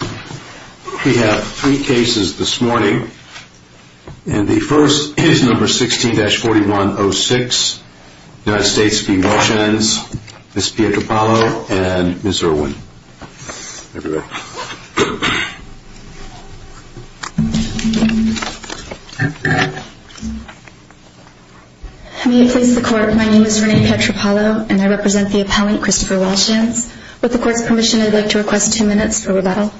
We have three cases this morning and the first is number 16-4106, United States v. Welshans, Ms. Pietropalo and Ms. Irwin. May it please the court, my name is Renee Pietropalo and I represent the appellant Christopher Welshans. With the court's permission I'd like to request two minutes for rebuttal.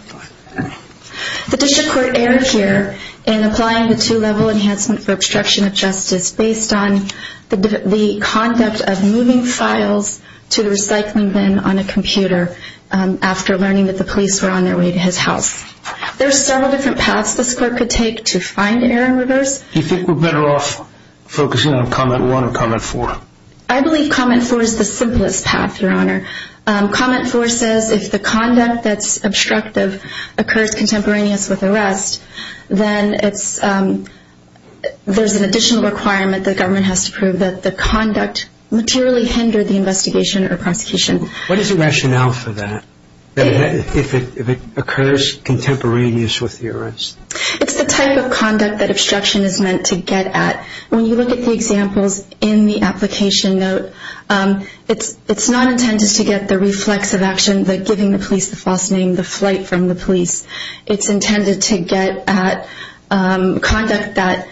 The district court erred here in applying the two-level enhancement for obstruction of justice based on the conduct of moving files to the recycling bin on a computer after learning that the police were on their way to his house. There are several different paths this court could take to find error and reverse. Do you think we're better off focusing on comment 1 or comment 4? I believe comment 4 is the simplest path, your honor. Comment 4 says if the conduct that's obstructive occurs contemporaneous with arrest then there's an additional requirement that the government has to prove that the conduct materially hindered the investigation or prosecution. What is the rationale for that, if it occurs contemporaneous with the arrest? It's the type of conduct that obstruction is meant to get at. When you look at the examples in the application note, it's not intended to get the reflexive action that giving the police the false name, the flight from the police. It's intended to get at conduct that,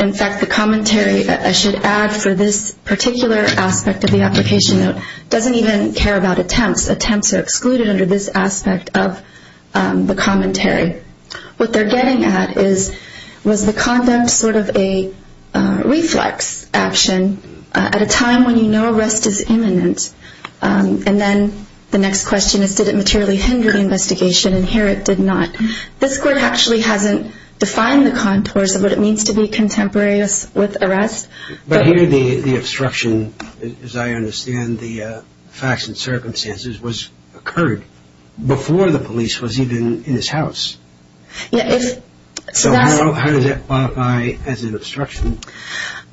in fact, the commentary I should add for this particular aspect of the application note doesn't even care about attempts. Attempts are excluded under this aspect of the commentary. What they're getting at is was the conduct sort of a reflex action at a time when you know arrest is imminent. And then the next question is did it materially hinder the investigation, and here it did not. This court actually hasn't defined the contours of what it means to be contemporaneous with arrest. But here the obstruction, as I understand the facts and circumstances, occurred before the police was even in his house. So how does that qualify as an obstruction?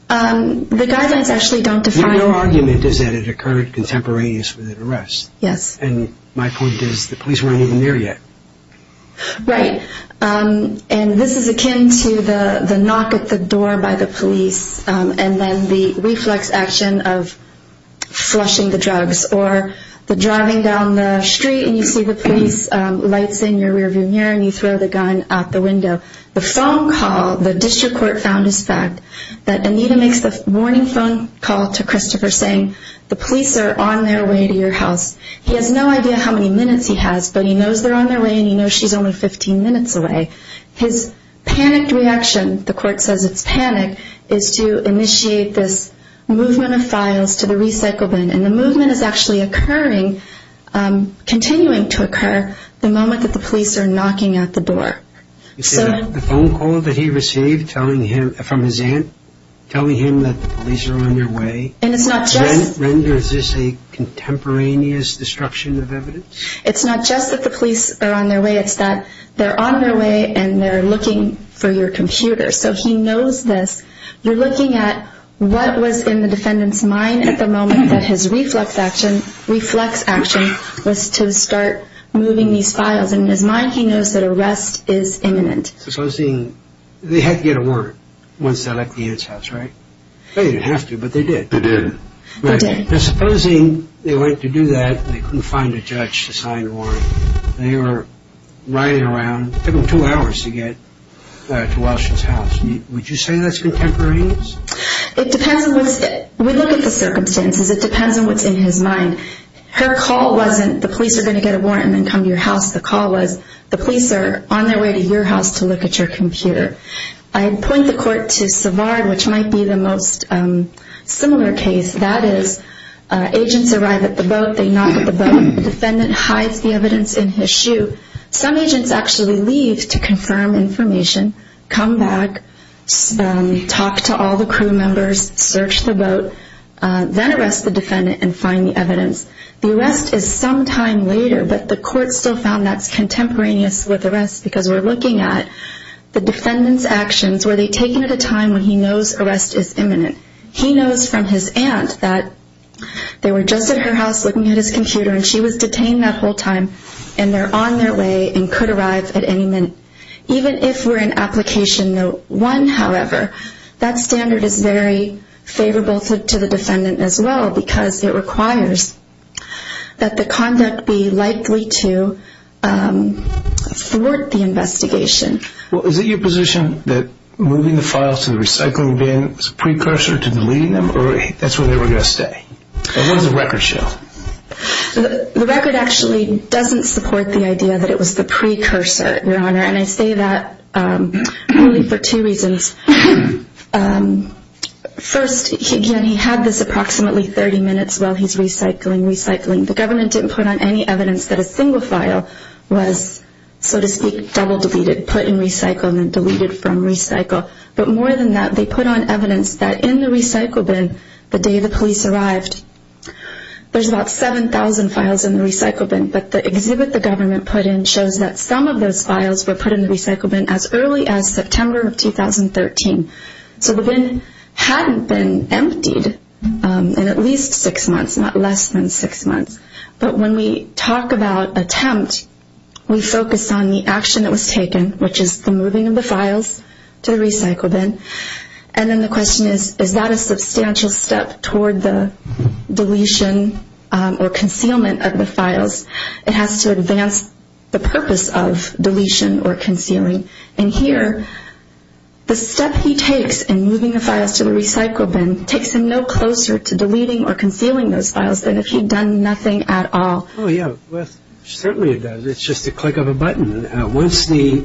The guidelines actually don't define it. Your argument is that it occurred contemporaneous with the arrest. Yes. And my point is the police weren't even there yet. Right. And this is akin to the knock at the door by the police and then the reflex action of flushing the drugs or the driving down the street and you see the police lights in your rear view mirror and you throw the gun out the window. The phone call, the district court found this fact, that Anita makes the morning phone call to Christopher saying, the police are on their way to your house. He has no idea how many minutes he has, but he knows they're on their way and he knows she's only 15 minutes away. His panicked reaction, the court says it's panic, is to initiate this movement of files to the recycle bin. And the movement is actually occurring, continuing to occur, the moment that the police are knocking at the door. The phone call that he received telling him, from his aunt, telling him that the police are on their way. And it's not just. Renders this a contemporaneous destruction of evidence? It's not just that the police are on their way, it's that they're on their way and they're looking for your computer. So he knows this. You're looking at what was in the defendant's mind at the moment that his reflex action was to start moving these files. In his mind, he knows that arrest is imminent. Supposing they had to get a warrant once they left the Ed's house, right? They didn't have to, but they did. They did. Supposing they went to do that and they couldn't find a judge to sign a warrant. They were riding around. It took them two hours to get to Walsh's house. Would you say that's contemporaneous? We look at the circumstances. It depends on what's in his mind. Her call wasn't, the police are going to get a warrant and then come to your house. The call was, the police are on their way to your house to look at your computer. I'd point the court to Savard, which might be the most similar case. That is, agents arrive at the boat. They knock at the boat. The defendant hides the evidence in his shoe. Some agents actually leave to confirm information, come back, talk to all the crew members, search the boat, then arrest the defendant and find the evidence. The arrest is some time later, but the court still found that's contemporaneous with arrests because we're looking at the defendant's actions. Were they taken at a time when he knows arrest is imminent? He knows from his aunt that they were just at her house looking at his computer and she was detained that whole time and they're on their way and could arrive at any minute. Even if we're in application no. 1, however, that standard is very favorable to the defendant as well because it requires that the conduct be likely to thwart the investigation. Is it your position that moving the files to the recycling bin is a precursor to deleting them or that's where they were going to stay? What does the record show? The record actually doesn't support the idea that it was the precursor, Your Honor, and I say that only for two reasons. First, again, he had this approximately 30 minutes while he's recycling, recycling. The government didn't put on any evidence that a single file was, so to speak, double deleted, put in recycle and then deleted from recycle. But more than that, they put on evidence that in the recycle bin the day the police arrived, there's about 7,000 files in the recycle bin. But the exhibit the government put in shows that some of those files were put in the recycle bin as early as September of 2013. So the bin hadn't been emptied in at least six months, not less than six months. But when we talk about attempt, we focus on the action that was taken, which is the moving of the files to the recycle bin. And then the question is, is that a substantial step toward the deletion or concealment of the files? It has to advance the purpose of deletion or concealing. And here, the step he takes in moving the files to the recycle bin takes him no closer to deleting or concealing those files than if he'd done nothing at all. Oh, yeah, certainly it does. It's just the click of a button. Once the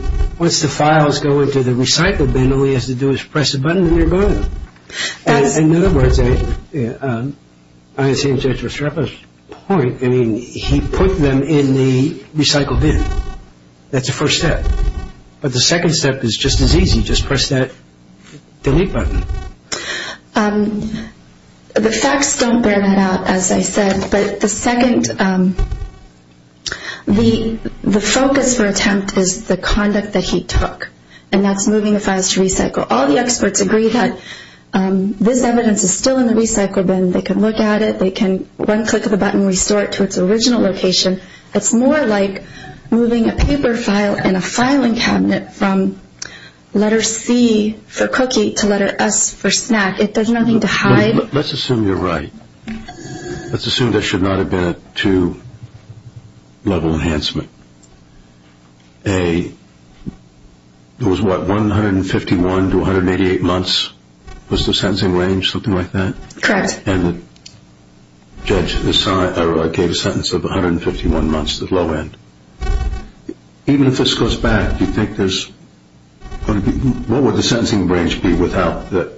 files go into the recycle bin, all he has to do is press a button and they're gone. In other words, I think that's a sharp point. I mean, he put them in the recycle bin. That's the first step. But the second step is just as easy. Just press that delete button. The facts don't bear that out, as I said. But the second, the focus for attempt is the conduct that he took, and that's moving the files to recycle. All the experts agree that this evidence is still in the recycle bin. They can look at it. They can, one click of a button, restore it to its original location. It's more like moving a paper file in a filing cabinet from letter C for cookie to letter S for snack. There's nothing to hide. Let's assume you're right. Let's assume there should not have been a two-level enhancement. A, it was what, 151 to 188 months was the sentencing range, something like that? Correct. And the judge gave a sentence of 151 months at low end. Even if this goes back, do you think there's going to be, what would the sentencing range be without the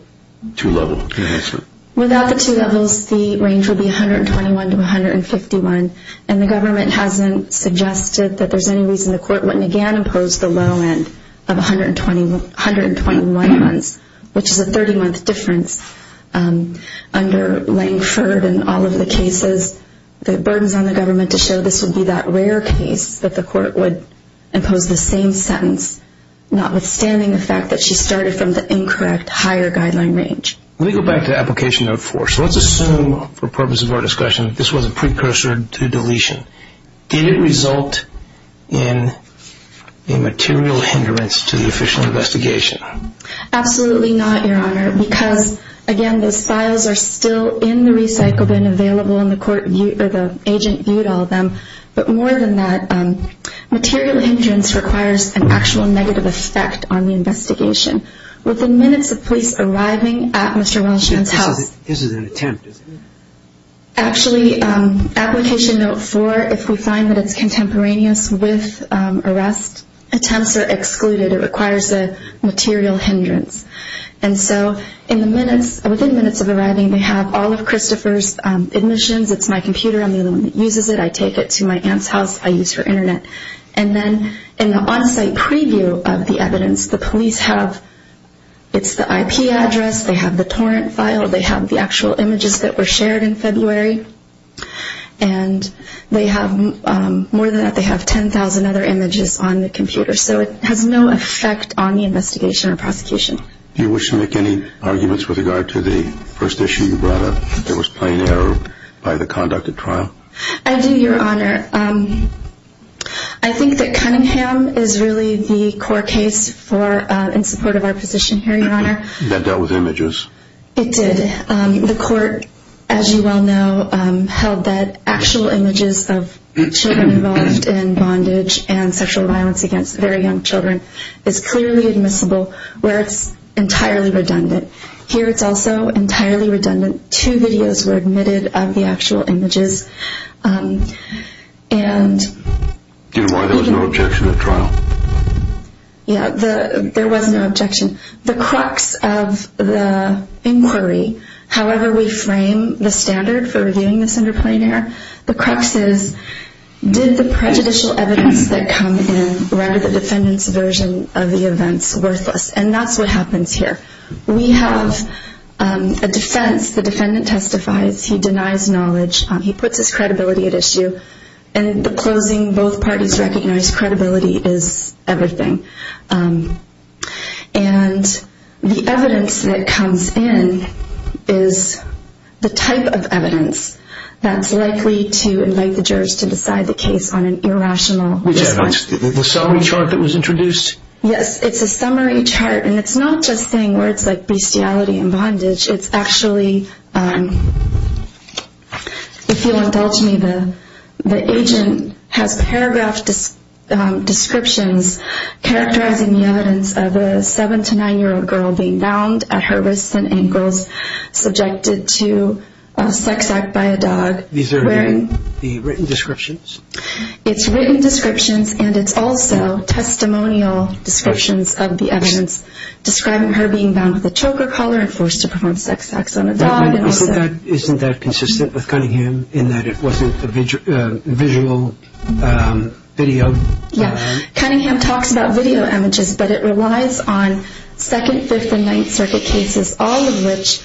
two-level enhancement? Without the two levels, the range would be 121 to 151, and the government hasn't suggested that there's any reason the court wouldn't again impose the low end of 121 months, which is a 30-month difference under Langford and all of the cases. The burden's on the government to show this would be that rare case that the court would impose the same sentence, notwithstanding the fact that she started from the incorrect higher guideline range. Let me go back to Application No. 4. So let's assume, for the purpose of our discussion, this was a precursor to deletion. Did it result in a material hindrance to the official investigation? Absolutely not, Your Honor, because, again, those files are still in the recycle bin available, and the agent viewed all of them. But more than that, material hindrance requires an actual negative effect on the investigation. Within minutes of police arriving at Mr. Welch's house. This is an attempt, is it? Actually, Application No. 4, if we find that it's contemporaneous with arrest, attempts are excluded. It requires a material hindrance. And so within minutes of arriving, they have all of Christopher's admissions. It's my computer. I'm the only one that uses it. I take it to my aunt's house. I use her Internet. And then in the on-site preview of the evidence, the police have, it's the IP address. They have the torrent file. They have the actual images that were shared in February. And they have, more than that, they have 10,000 other images on the computer. So it has no effect on the investigation or prosecution. Do you wish to make any arguments with regard to the first issue you brought up, that was plain error by the conduct of trial? I do, Your Honor. I think that Cunningham is really the core case in support of our position here, Your Honor. That dealt with images. It did. The court, as you well know, held that actual images of children involved in bondage and sexual violence against very young children is clearly admissible where it's entirely redundant. Here it's also entirely redundant. Two videos were admitted of the actual images. And... Your Honor, there was no objection at trial. Yeah, there was no objection. The crux of the inquiry, however we frame the standard for reviewing this under plain error, the crux is did the prejudicial evidence that come in render the defendant's version of the events worthless? And that's what happens here. We have a defense. The defendant testifies. He denies knowledge. He puts his credibility at issue. And in the closing, both parties recognize credibility is everything. And the evidence that comes in is the type of evidence that's likely to invite the jurors to decide the case on an irrational basis. The summary chart that was introduced? Yes, it's a summary chart. And it's not just saying words like bestiality and bondage. It's actually, if you'll indulge me, the agent has paragraph descriptions characterizing the evidence of a 7-9-year-old girl being bound at her wrists and ankles, subjected to a sex act by a dog. These are again the written descriptions? It's written descriptions. And it's also testimonial descriptions of the evidence describing her being bound with a choker collar and forced to perform sex acts on a dog. Isn't that consistent with Cunningham in that it wasn't a visual video? Yeah. Cunningham talks about video images, but it relies on 2nd, 5th, and 9th Circuit cases, all of which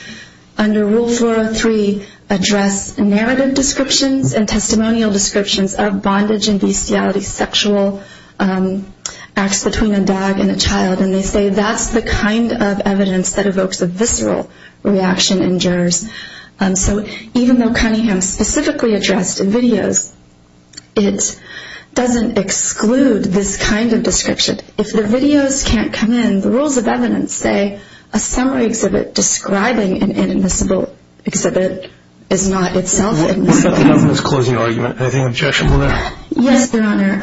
under Rule 403 address narrative descriptions and testimonial descriptions of bondage and bestiality, sexual acts between a dog and a child. And they say that's the kind of evidence that evokes a visceral reaction in jurors. So even though Cunningham specifically addressed in videos, it doesn't exclude this kind of description. If the videos can't come in, the rules of evidence say a summary exhibit describing an inadmissible exhibit is not itself inadmissible. What about the government's closing argument? Anything objectionable there? Yes, Your Honor.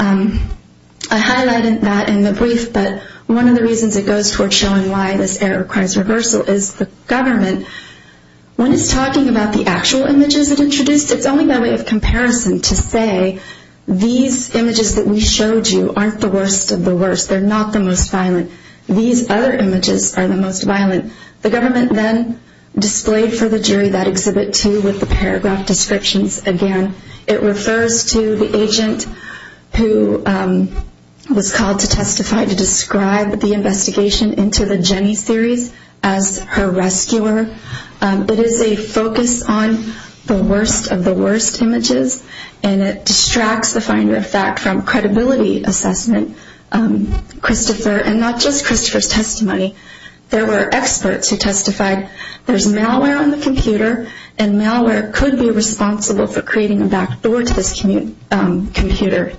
I highlighted that in the brief, but one of the reasons it goes toward showing why this error requires reversal is the government, when it's talking about the actual images it introduced, it's only by way of comparison to say, these images that we showed you aren't the worst of the worst. They're not the most violent. These other images are the most violent. The government then displayed for the jury that exhibit 2 with the paragraph descriptions again. It refers to the agent who was called to testify to describe the investigation into the Jenny series as her rescuer. It is a focus on the worst of the worst images, and it distracts the finder of fact from credibility assessment. Christopher, and not just Christopher's testimony, there were experts who testified there's malware on the computer, and malware could be responsible for creating a backdoor to this computer.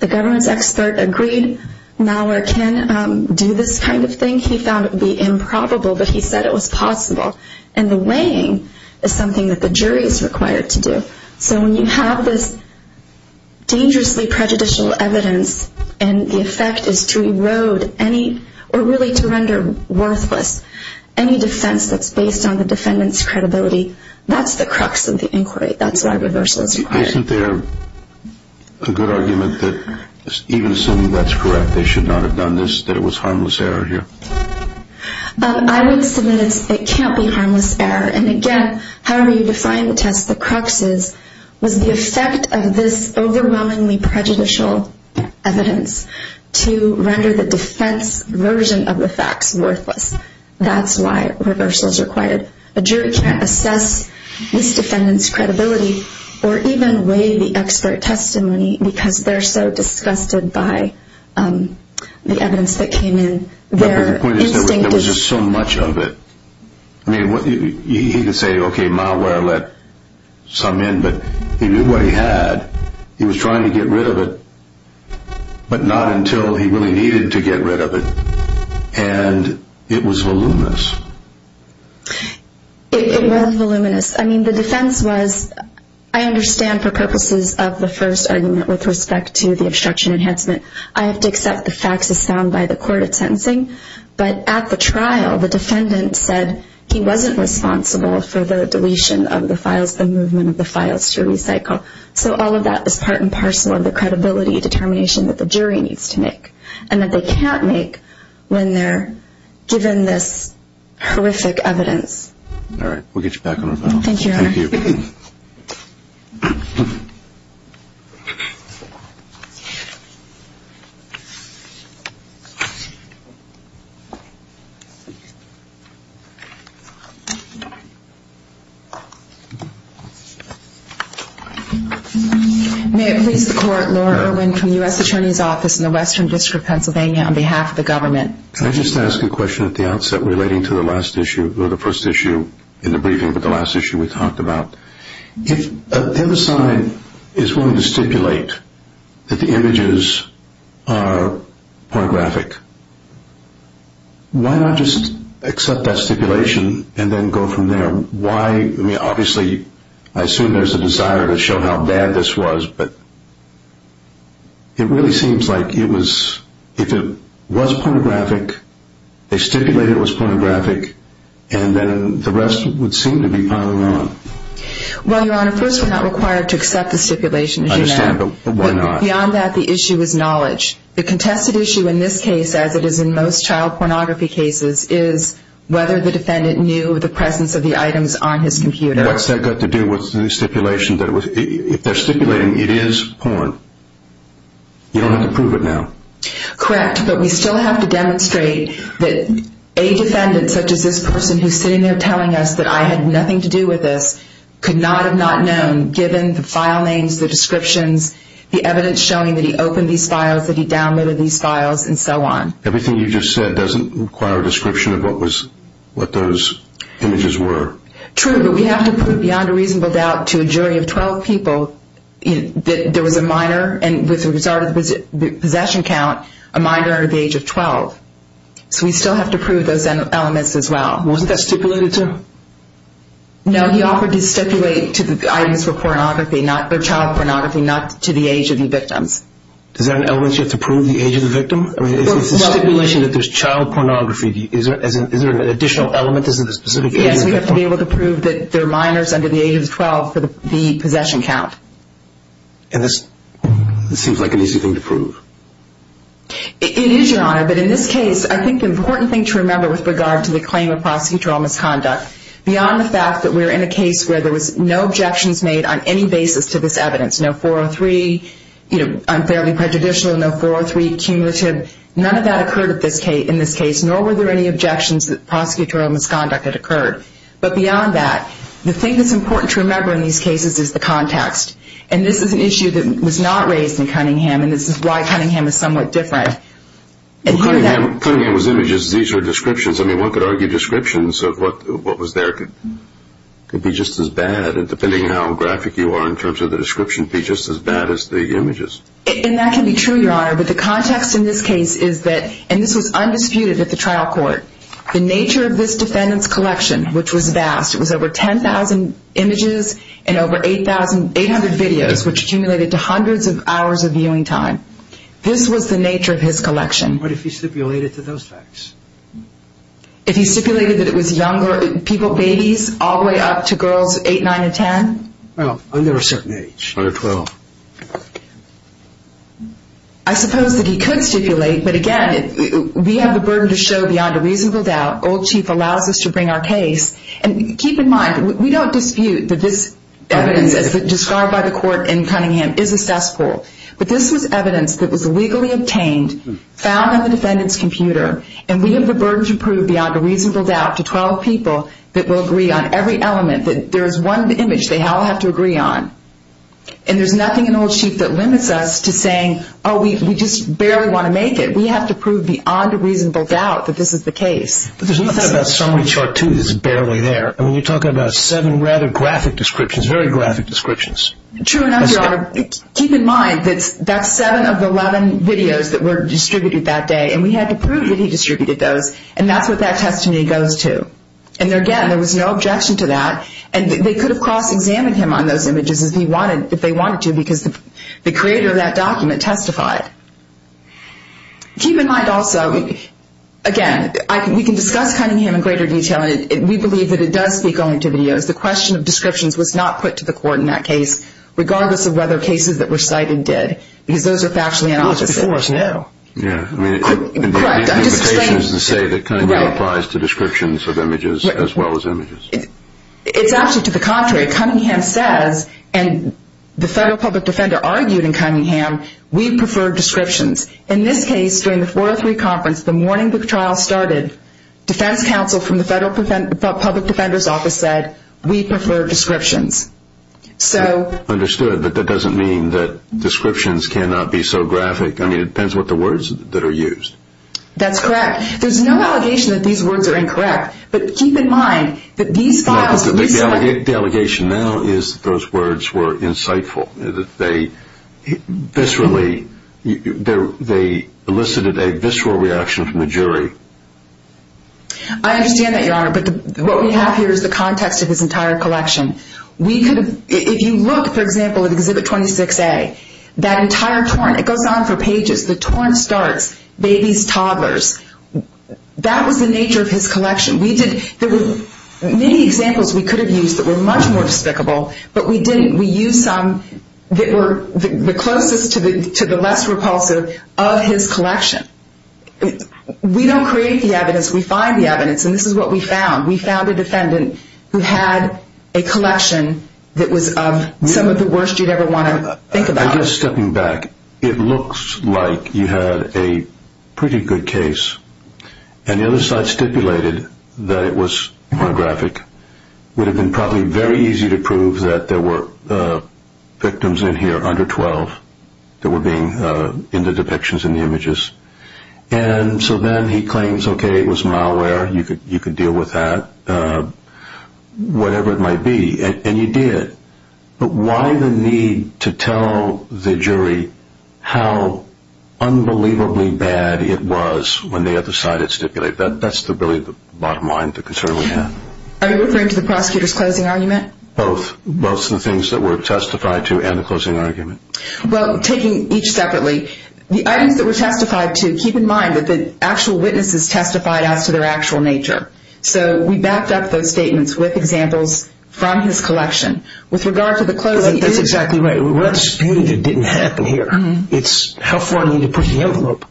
The government's expert agreed malware can do this kind of thing. I think he found it would be improbable, but he said it was possible, and the weighing is something that the jury is required to do. So when you have this dangerously prejudicial evidence, and the effect is to erode any, or really to render worthless any defense that's based on the defendant's credibility, that's the crux of the inquiry. That's why reversal is required. Isn't there a good argument that even assuming that's correct, they should not have done this, that it was harmless error here? I would submit it can't be harmless error, and again, however you define the test, the crux is was the effect of this overwhelmingly prejudicial evidence to render the defense version of the facts worthless. That's why reversal is required. A jury can't assess this defendant's credibility, or even weigh the expert testimony, because they're so disgusted by the evidence that came in. The point is there was just so much of it. He could say, okay, malware let some in, but he did what he had. He was trying to get rid of it, but not until he really needed to get rid of it, and it was voluminous. It was voluminous. I mean, the defense was, I understand for purposes of the first argument with respect to the obstruction enhancement, I have to accept the facts as found by the court at sentencing, but at the trial the defendant said he wasn't responsible for the deletion of the files, the movement of the files to recycle. So all of that was part and parcel of the credibility determination that the jury needs to make, and that they can't make when they're given this horrific evidence. All right. We'll get you back on the phone. Thank you, Your Honor. Thank you. Thank you. May it please the Court, Laura Irwin from the U.S. Attorney's Office in the Western District of Pennsylvania on behalf of the government. Can I just ask a question at the outset relating to the last issue, or the first issue in the briefing, but the last issue we talked about. If an MSI is willing to stipulate that the images are pornographic, why not just accept that stipulation and then go from there? Why, I mean, obviously I assume there's a desire to show how bad this was, but it really seems like if it was pornographic, they stipulated it was pornographic, and then the rest would seem to be piling on. Well, Your Honor, first we're not required to accept the stipulation. I understand, but why not? Beyond that, the issue is knowledge. The contested issue in this case, as it is in most child pornography cases, is whether the defendant knew the presence of the items on his computer. What's that got to do with the stipulation? If they're stipulating it is porn, you don't have to prove it now. Correct, but we still have to demonstrate that a defendant, such as this person who's sitting there telling us that I had nothing to do with this, could not have not known, given the file names, the descriptions, the evidence showing that he opened these files, that he downloaded these files, and so on. Everything you just said doesn't require a description of what those images were. True, but we have to prove beyond a reasonable doubt to a jury of 12 people that there was a minor, and with regard to the possession count, a minor under the age of 12. So we still have to prove those elements as well. Wasn't that stipulated, too? No, he offered to stipulate to the items for child pornography, not to the age of the victims. Is that an element you have to prove, the age of the victim? It's a stipulation that there's child pornography. Is there an additional element? Yes, we have to be able to prove that there are minors under the age of 12 for the possession count. And this seems like an easy thing to prove. It is, Your Honor, but in this case, I think the important thing to remember with regard to the claim of prosecutorial misconduct, beyond the fact that we're in a case where there was no objections made on any basis to this evidence, no 403 unfairly prejudicial, no 403 cumulative, none of that occurred in this case, nor were there any objections that prosecutorial misconduct had occurred. But beyond that, the thing that's important to remember in these cases is the context. And this is an issue that was not raised in Cunningham, and this is why Cunningham is somewhat different. Cunningham's images, these are descriptions. I mean, one could argue descriptions of what was there could be just as bad, and depending on how graphic you are in terms of the description, be just as bad as the images. And that can be true, Your Honor, but the context in this case is that, and this was undisputed at the trial court, the nature of this defendant's collection, which was vast. It was over 10,000 images and over 800 videos, which accumulated to hundreds of hours of viewing time. This was the nature of his collection. What if he stipulated to those facts? If he stipulated that it was younger people, babies, all the way up to girls 8, 9, and 10? Well, under a certain age. Under 12. I suppose that he could stipulate, but again, we have the burden to show beyond a reasonable doubt. Old Chief allows us to bring our case. And keep in mind, we don't dispute that this evidence, as described by the court in Cunningham, is assessable. But this was evidence that was legally obtained, found on the defendant's computer, and we have the burden to prove beyond a reasonable doubt to 12 people that will agree on every element, that there is one image they all have to agree on. And there's nothing in Old Chief that limits us to saying, oh, we just barely want to make it. We have to prove beyond a reasonable doubt that this is the case. But there's nothing about Summary Chart 2 that's barely there. I mean, you're talking about seven rather graphic descriptions, very graphic descriptions. True enough, Your Honor. Keep in mind that that's seven of the 11 videos that were distributed that day, and we had to prove that he distributed those, and that's what that testimony goes to. And again, there was no objection to that. And they could have cross-examined him on those images if they wanted to, because the creator of that document testified. Keep in mind also, again, we can discuss Cunningham in greater detail, and we believe that it does speak only to videos. The question of descriptions was not put to the court in that case, regardless of whether cases that were cited did, because those are factually unauthentic. It was before us now. Yeah. Correct. I'm just saying that Cunningham applies to descriptions of images as well as images. It's actually to the contrary. Cunningham says, and the federal public defender argued in Cunningham, we prefer descriptions. In this case, during the 403 conference, the morning the trial started, defense counsel from the public defender's office said, we prefer descriptions. Understood. But that doesn't mean that descriptions cannot be so graphic. I mean, it depends what the words that are used. That's correct. There's no allegation that these words are incorrect. But keep in mind that these files recently – The allegation now is that those words were insightful, that they viscerally – they elicited a visceral reaction from the jury. I understand that, Your Honor. But what we have here is the context of his entire collection. If you look, for example, at Exhibit 26A, that entire torrent, it goes on for pages, the torrent starts, babies, toddlers. That was the nature of his collection. There were many examples we could have used that were much more despicable, but we didn't. We used some that were the closest to the less repulsive of his collection. We don't create the evidence. We find the evidence, and this is what we found. We found a defendant who had a collection that was of some of the worst you'd ever want to think about. I guess stepping back, it looks like you had a pretty good case, and the other side stipulated that it was pornographic. It would have been probably very easy to prove that there were victims in here under 12 that were being in the depictions in the images. So then he claims, okay, it was malware, you could deal with that, whatever it might be, and you did. But why the need to tell the jury how unbelievably bad it was when the other side had stipulated that? That's really the bottom line, the concern we had. Are you referring to the prosecutor's closing argument? Both. Both the things that were testified to and the closing argument. Well, taking each separately, the items that were testified to, keep in mind that the actual witnesses testified as to their actual nature. So we backed up those statements with examples from his collection. That's exactly right. We're disputing it didn't happen here. It's how far you need to push the envelope.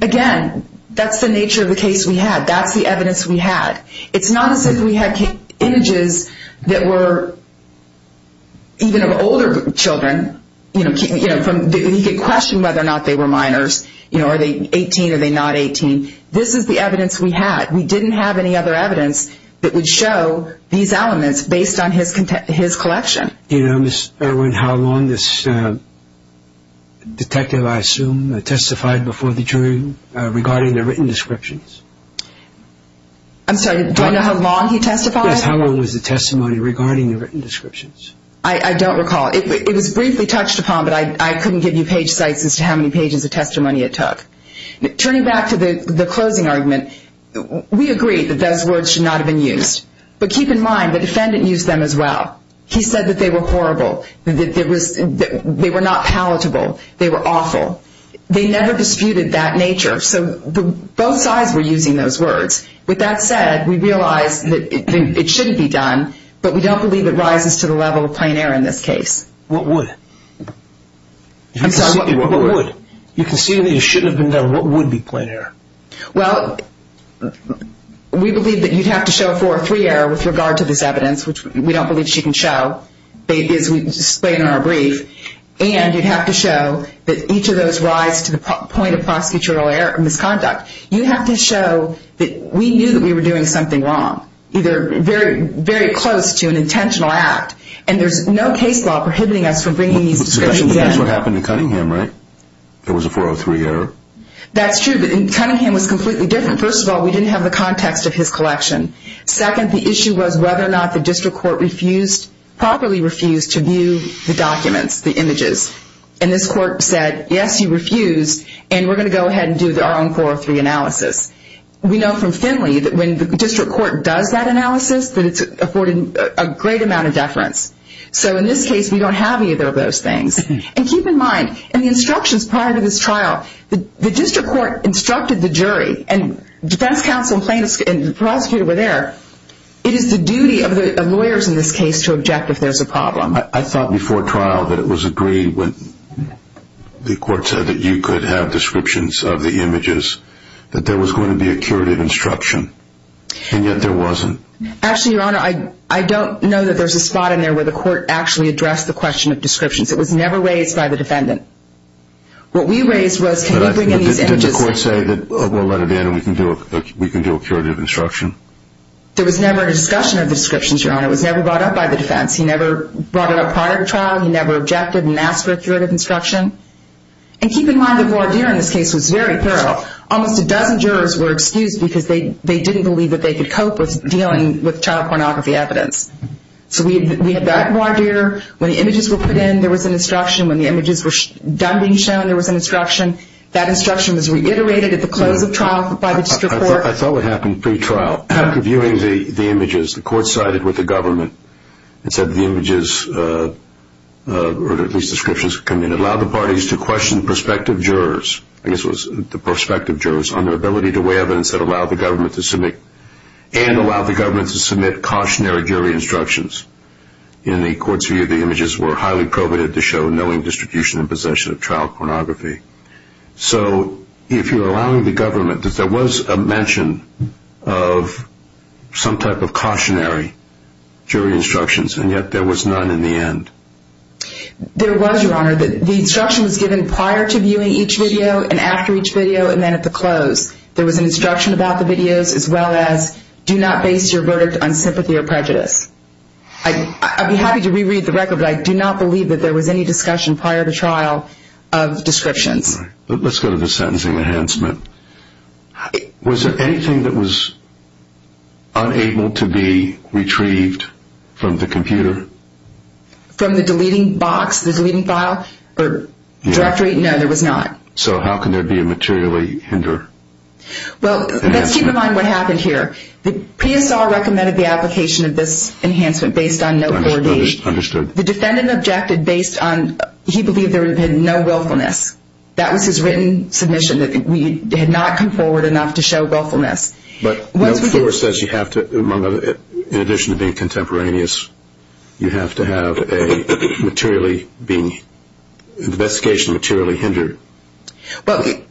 Again, that's the nature of the case we had. That's the evidence we had. It's not as if we had images that were even of older children. He could question whether or not they were minors. Are they 18? Are they not 18? This is the evidence we had. We didn't have any other evidence that would show these elements based on his collection. You know, Ms. Irwin, how long this detective, I assume, testified before the jury regarding the written descriptions? I'm sorry, do I know how long he testified? Yes, how long was the testimony regarding the written descriptions? I don't recall. It was briefly touched upon, but I couldn't give you page sites as to how many pages of testimony it took. Turning back to the closing argument, we agreed that those words should not have been used. But keep in mind, the defendant used them as well. He said that they were horrible. They were not palatable. They were awful. They never disputed that nature. So both sides were using those words. With that said, we realize that it shouldn't be done, but we don't believe it rises to the level of plein air in this case. What would? You can see that it shouldn't have been done. What would be plein air? Well, we believe that you'd have to show a 403 error with regard to this evidence, which we don't believe she can show, as we explain in our brief, and you'd have to show that each of those rise to the point of prosecutorial misconduct. You have to show that we knew that we were doing something wrong, either very close to an intentional act, and there's no case law prohibiting us from bringing these descriptions in. That's what happened in Cunningham, right? There was a 403 error? That's true, but Cunningham was completely different. First of all, we didn't have the context of his collection. Second, the issue was whether or not the district court properly refused to view the documents, the images. And this court said, yes, you refused, and we're going to go ahead and do our own 403 analysis. We know from Finley that when the district court does that analysis, that it's afforded a great amount of deference. So in this case, we don't have either of those things. And keep in mind, in the instructions prior to this trial, the district court instructed the jury, and defense counsel and plaintiffs and the prosecutor were there. It is the duty of the lawyers in this case to object if there's a problem. I thought before trial that it was agreed when the court said that you could have descriptions of the images, that there was going to be a curative instruction, and yet there wasn't. Actually, Your Honor, I don't know that there's a spot in there where the court actually addressed the question of descriptions. It was never raised by the defendant. What we raised was, can you bring in these images? Did the court say that we'll let it in and we can do a curative instruction? There was never a discussion of the descriptions, Your Honor. It was never brought up by the defense. He never brought it up prior to trial. He never objected and asked for a curative instruction. And keep in mind, the voir dire in this case was very thorough. Almost a dozen jurors were excused because they didn't believe that they could cope with dealing with child pornography evidence. So we had that voir dire. When the images were put in, there was an instruction. When the images were done being shown, there was an instruction. That instruction was reiterated at the close of trial by the district court. I thought what happened pre-trial, after viewing the images, the court sided with the government and said the images, or at least descriptions, could allow the parties to question the prospective jurors, I guess it was the prospective jurors, on their ability to weigh evidence that allowed the government to submit cautionary jury instructions. In the court's view, the images were highly prohibited to show knowing distribution and possession of child pornography. So if you're allowing the government, there was a mention of some type of cautionary jury instructions, and yet there was none in the end. There was, Your Honor. The instruction was given prior to viewing each video and after each video and then at the close. There was an instruction about the videos as well as your verdict on sympathy or prejudice. I'd be happy to reread the record, but I do not believe that there was any discussion prior to trial of descriptions. Let's go to the sentencing enhancement. Was there anything that was unable to be retrieved from the computer? From the deleting box, the deleting file, or directory? No, there was not. So how can there be a materially hinder? Well, let's keep in mind what happened here. The PSR recommended the application of this enhancement based on no verdict. Understood. The defendant objected based on he believed there had been no willfulness. That was his written submission, that we had not come forward enough to show willfulness. But the court says you have to, in addition to being contemporaneous, you have to have an investigation materially hindered. Again,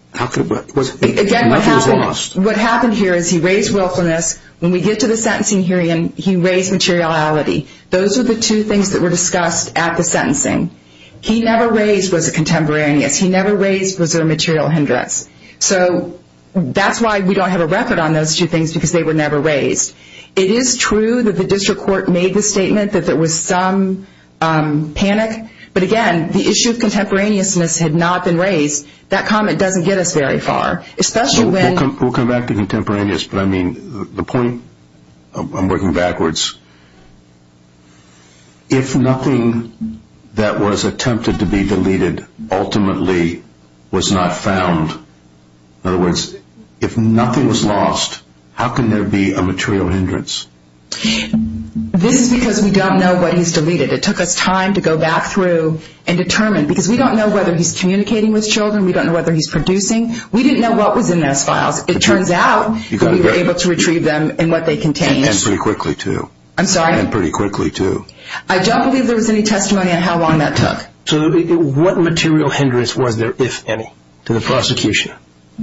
what happened here is he raised willfulness, when we get to the sentencing hearing, he raised materiality. Those are the two things that were discussed at the sentencing. He never raised was a contemporaneous. He never raised was there a material hindrance. So that's why we don't have a record on those two things, because they were never raised. It is true that the district court made the statement that there was some panic, but, again, the issue of contemporaneousness had not been raised. That comment doesn't get us very far. We'll come back to contemporaneous, but the point, I'm working backwards, if nothing that was attempted to be deleted ultimately was not found, in other words, if nothing was lost, how can there be a material hindrance? This is because we don't know what he's deleted. It took us time to go back through and determine, because we don't know whether he's communicating with children, we don't know whether he's producing. We didn't know what was in those files. It turns out we were able to retrieve them and what they contained. And pretty quickly, too. I'm sorry? And pretty quickly, too. I don't believe there was any testimony on how long that took. So what material hindrance was there, if any, to the prosecution?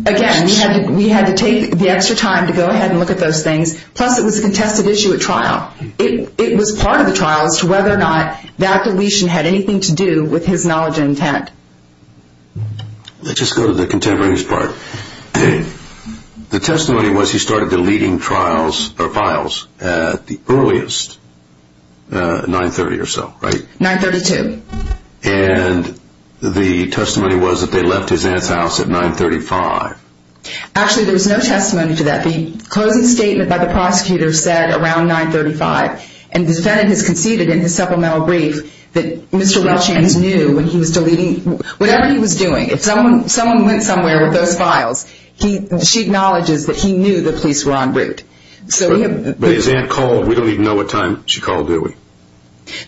Again, we had to take the extra time to go ahead and look at those things, plus it was a contested issue at trial. It was part of the trial as to whether or not the act of deletion had anything to do with his knowledge and intent. Let's just go to the contemporaneous part. The testimony was he started deleting files at the earliest, 930 or so, right? 932. And the testimony was that they left his aunt's house at 935. Actually, there was no testimony to that. The closing statement by the prosecutor said around 935. And the defendant has conceded in his supplemental brief that Mr. Welchians knew when he was deleting. Whatever he was doing, if someone went somewhere with those files, she acknowledges that he knew the police were en route. But his aunt called. We don't even know what time she called, do we?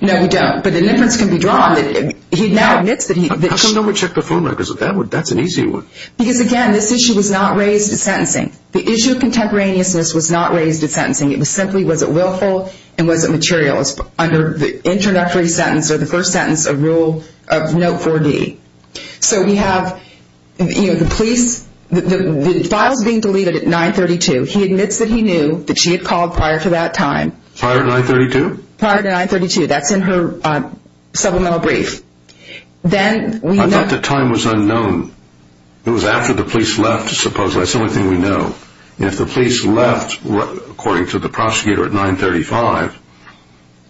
No, we don't. But the difference can be drawn. He now admits that he did. How come no one checked the phone records? That's an easy one. Because, again, this issue was not raised at sentencing. The issue of contemporaneousness was not raised at sentencing. It was simply was it willful and was it material? Under the introductory sentence or the first sentence of Rule of Note 4D. So we have the police, the files being deleted at 932. He admits that he knew that she had called prior to that time. Prior to 932? Prior to 932. That's in her supplemental brief. I thought the time was unknown. It was after the police left, supposedly. That's the only thing we know. If the police left, according to the prosecutor, at 935,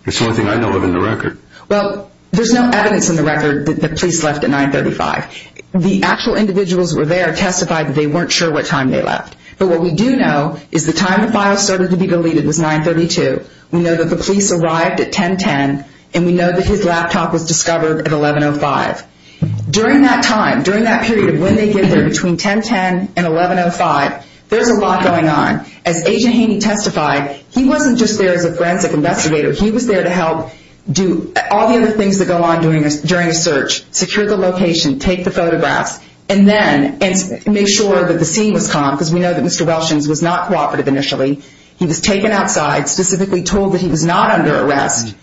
it's the only thing I know of in the record. Well, there's no evidence in the record that the police left at 935. The actual individuals that were there testified that they weren't sure what time they left. But what we do know is the time the files started to be deleted was 932. We know that the police arrived at 1010, and we know that his laptop was discovered at 1105. During that time, during that period of when they get there between 1010 and 1105, there's a lot going on. As Agent Haney testified, he wasn't just there as a forensic investigator. He was there to help do all the other things that go on during a search, secure the location, take the photographs, and then make sure that the scene was calm, because we know that Mr. Welshens was not cooperative initially. He was taken outside, specifically told that he was not under arrest.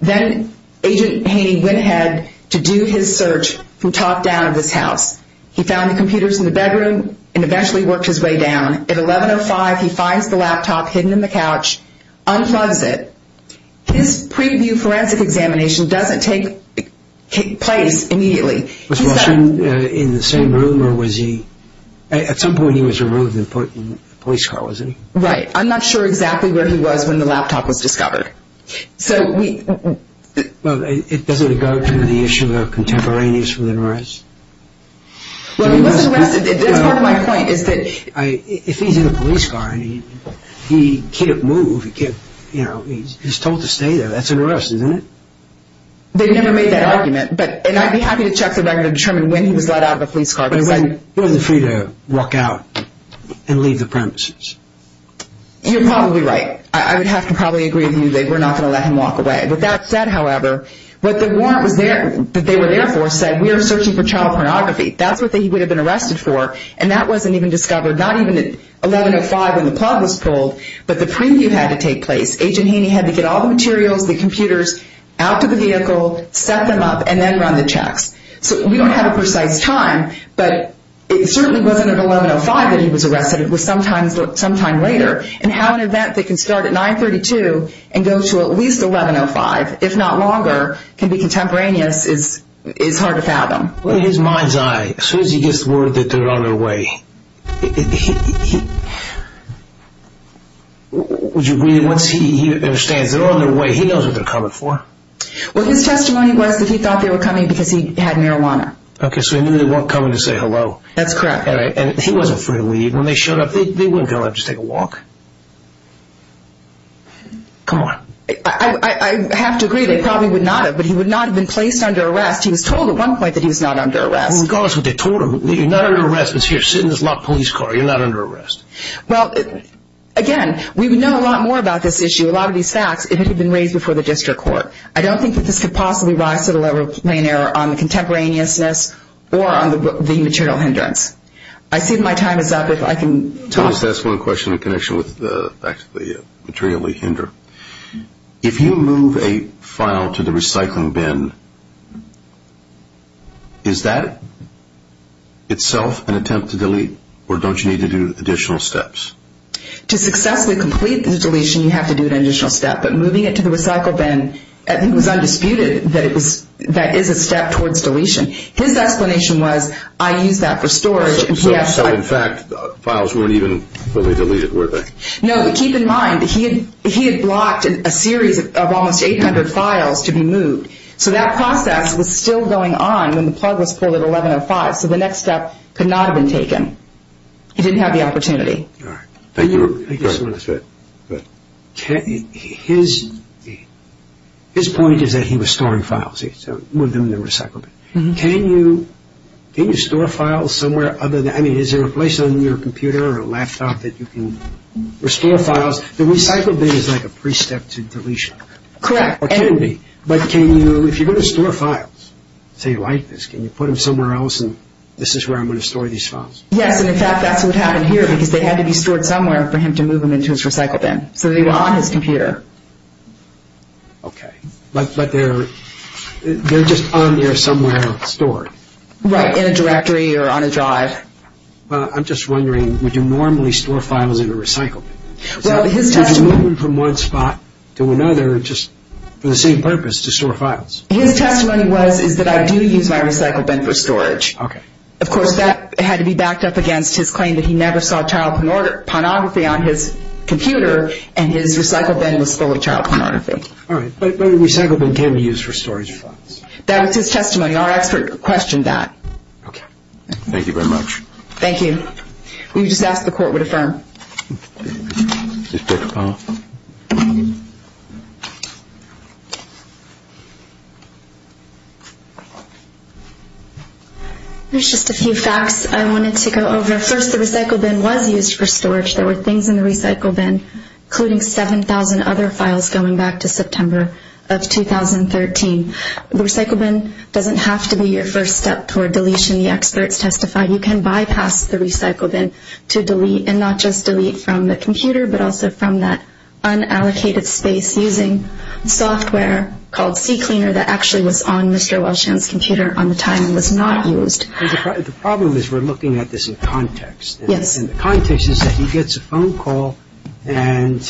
Then Agent Haney went ahead to do his search from top down of this house. He found the computers in the bedroom and eventually worked his way down. At 1105, he finds the laptop hidden in the couch, unplugs it. His preview forensic examination doesn't take place immediately. Was Welshens in the same room, or was he? At some point, he was removed and put in a police car, wasn't he? Right. I'm not sure exactly where he was when the laptop was discovered. It doesn't go to the issue of contemporaneous with an arrest? He was arrested. That's part of my point. If he's in a police car and he can't move, he's told to stay there, that's an arrest, isn't it? They never made that argument. I'd be happy to check the record to determine when he was let out of a police car. He wasn't free to walk out and leave the premises. You're probably right. I would have to probably agree with you that we're not going to let him walk away. That said, however, what the warrant that they were there for said, we are searching for child pornography. That's what he would have been arrested for. That wasn't even discovered, not even at 1105 when the plug was pulled, but the preview had to take place. Agent Haney had to get all the materials, the computers, out to the vehicle, set them up, and then run the checks. We don't have a precise time, but it certainly wasn't at 1105 that he was arrested. It was sometime later. And how an event that can start at 932 and go to at least 1105, if not longer, can be contemporaneous is hard to fathom. In his mind's eye, as soon as he gets word that they're on their way, once he understands they're on their way, he knows what they're coming for. Well, his testimony was that he thought they were coming because he had marijuana. Okay, so he knew they weren't coming to say hello. That's correct. And he wasn't afraid to leave. When they showed up, they wouldn't go out just to take a walk. Come on. I have to agree, they probably would not have, but he would not have been placed under arrest. He was told at one point that he was not under arrest. Well, regardless of what they told him, you're not under arrest because you're sitting in this locked police car. You're not under arrest. Well, again, we would know a lot more about this issue, a lot of these facts, if it had been raised before the district court. I don't think that this could possibly rise to the level of plain error on the contemporaneousness or on the material hindrance. I see my time is up. If I can talk. I just want to ask one question in connection with the fact of the material hindrance. If you move a file to the recycling bin, is that itself an attempt to delete or don't you need to do additional steps? To successfully complete the deletion, you have to do an additional step. But moving it to the recycle bin, I think it was undisputed that that is a step towards deletion. His explanation was, I use that for storage. So, in fact, the files weren't even fully deleted, were they? No, but keep in mind, he had blocked a series of almost 800 files to be moved. So that process was still going on when the plug was pulled at 1105. So the next step could not have been taken. He didn't have the opportunity. All right. Thank you. Thank you so much. His point is that he was storing files. He moved them to the recycle bin. Can you store files somewhere other than, I mean, is there a place on your computer or a laptop that you can restore files? The recycle bin is like a pre-step to deletion. Correct. But can you, if you're going to store files, say like this, can you put them somewhere else and this is where I'm going to store these files? Yes, and, in fact, that's what happened here because they had to be stored somewhere for him to move them into his recycle bin. So they were on his computer. Okay. But they're just on there somewhere stored. Right, in a directory or on a drive. Well, I'm just wondering, would you normally store files in a recycle bin? Well, his testimony – Would you move them from one spot to another just for the same purpose, to store files? His testimony was, is that I do use my recycle bin for storage. Okay. Of course, that had to be backed up against his claim that he never saw child pornography on his computer and his recycle bin was full of child pornography. All right. But a recycle bin can be used for storage of files. That was his testimony. Our expert questioned that. Okay. Thank you. We would just ask that the Court would affirm. Okay. There's just a few facts I wanted to go over. First, the recycle bin was used for storage. There were things in the recycle bin, including 7,000 other files going back to September of 2013. The recycle bin doesn't have to be your first step toward deletion. The experts testified you can bypass the recycle bin to delete and not just delete from the computer, but also from that unallocated space using software called CCleaner that actually was on Mr. Welshand's computer on the time and was not used. The problem is we're looking at this in context. Yes. And the context is that he gets a phone call and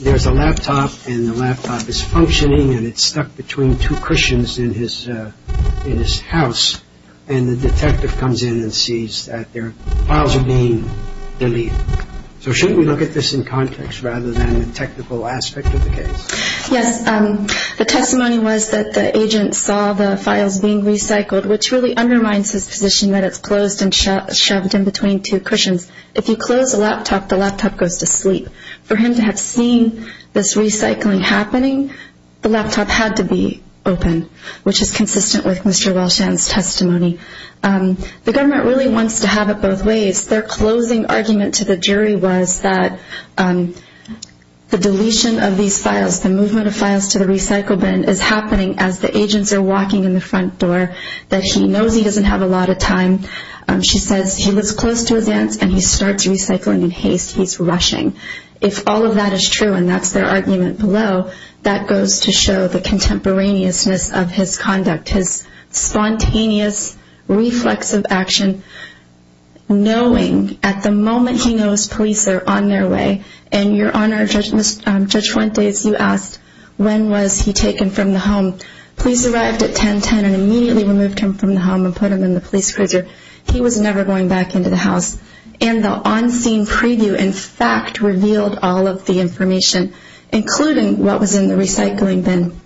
there's a laptop and the laptop is functioning and it's stuck between two cushions in his house and the detective comes in and sees that their files are being deleted. So shouldn't we look at this in context rather than the technical aspect of the case? Yes. The testimony was that the agent saw the files being recycled, which really undermines his position that it's closed and shoved in between two cushions. If you close a laptop, the laptop goes to sleep. For him to have seen this recycling happening, the laptop had to be open, which is consistent with Mr. Welshand's testimony. The government really wants to have it both ways. Their closing argument to the jury was that the deletion of these files, the movement of files to the recycle bin is happening as the agents are walking in the front door, that he knows he doesn't have a lot of time. She says he looks close to his aunts and he starts recycling in haste. He's rushing. If all of that is true and that's their argument below, that goes to show the contemporaneousness of his conduct, his spontaneous reflexive action, knowing at the moment he knows police are on their way. And, Your Honor, Judge Fuentes, you asked when was he taken from the home. Police arrived at 10-10 and immediately removed him from the home and put him in the police cruiser. He was never going back into the house. And the on-scene preview, in fact, revealed all of the information, including what was in the recycling bin.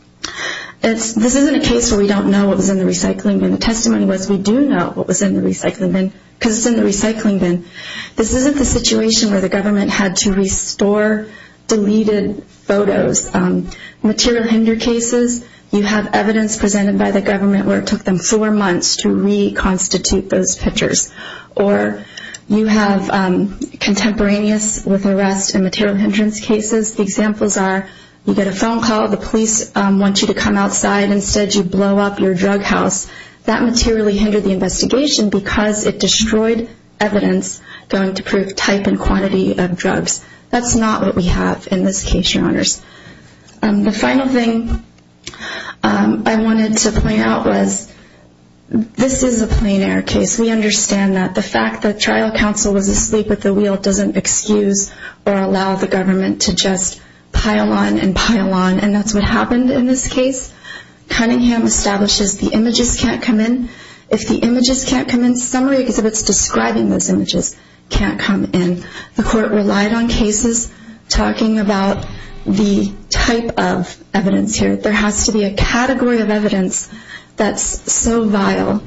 This isn't a case where we don't know what was in the recycling bin. The testimony was we do know what was in the recycling bin because it's in the recycling bin. This isn't the situation where the government had to restore deleted photos. Material hinder cases, you have evidence presented by the government where it took them four months to reconstitute those pictures. Or you have contemporaneous with arrest and material hindrance cases. The examples are you get a phone call, the police want you to come outside. Instead, you blow up your drug house. That materially hindered the investigation because it destroyed evidence going to prove type and quantity of drugs. That's not what we have in this case, Your Honors. The final thing I wanted to point out was this is a plein air case. We understand that the fact that trial counsel was asleep at the wheel doesn't excuse or allow the government to just pile on and pile on. And that's what happened in this case. Cunningham establishes the images can't come in. If the images can't come in, summary exhibits describing those images can't come in. The court relied on cases talking about the type of evidence here. There has to be a category of evidence that's so vile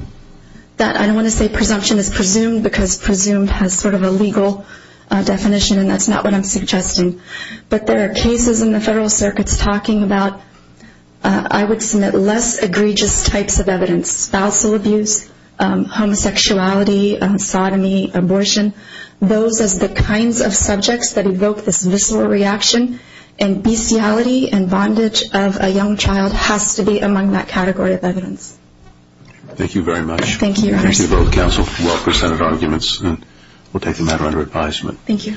that I don't want to say presumption is presumed because presumed has sort of a legal definition and that's not what I'm suggesting. But there are cases in the federal circuits talking about, I would submit, less egregious types of evidence, spousal abuse, homosexuality, sodomy, abortion, those as the kinds of subjects that evoke this visceral reaction. And bestiality and bondage of a young child has to be among that category of evidence. Thank you very much. Thank you, Your Honor. Thank you to both counsel for well-presented arguments. We'll take the matter under advisement. Thank you.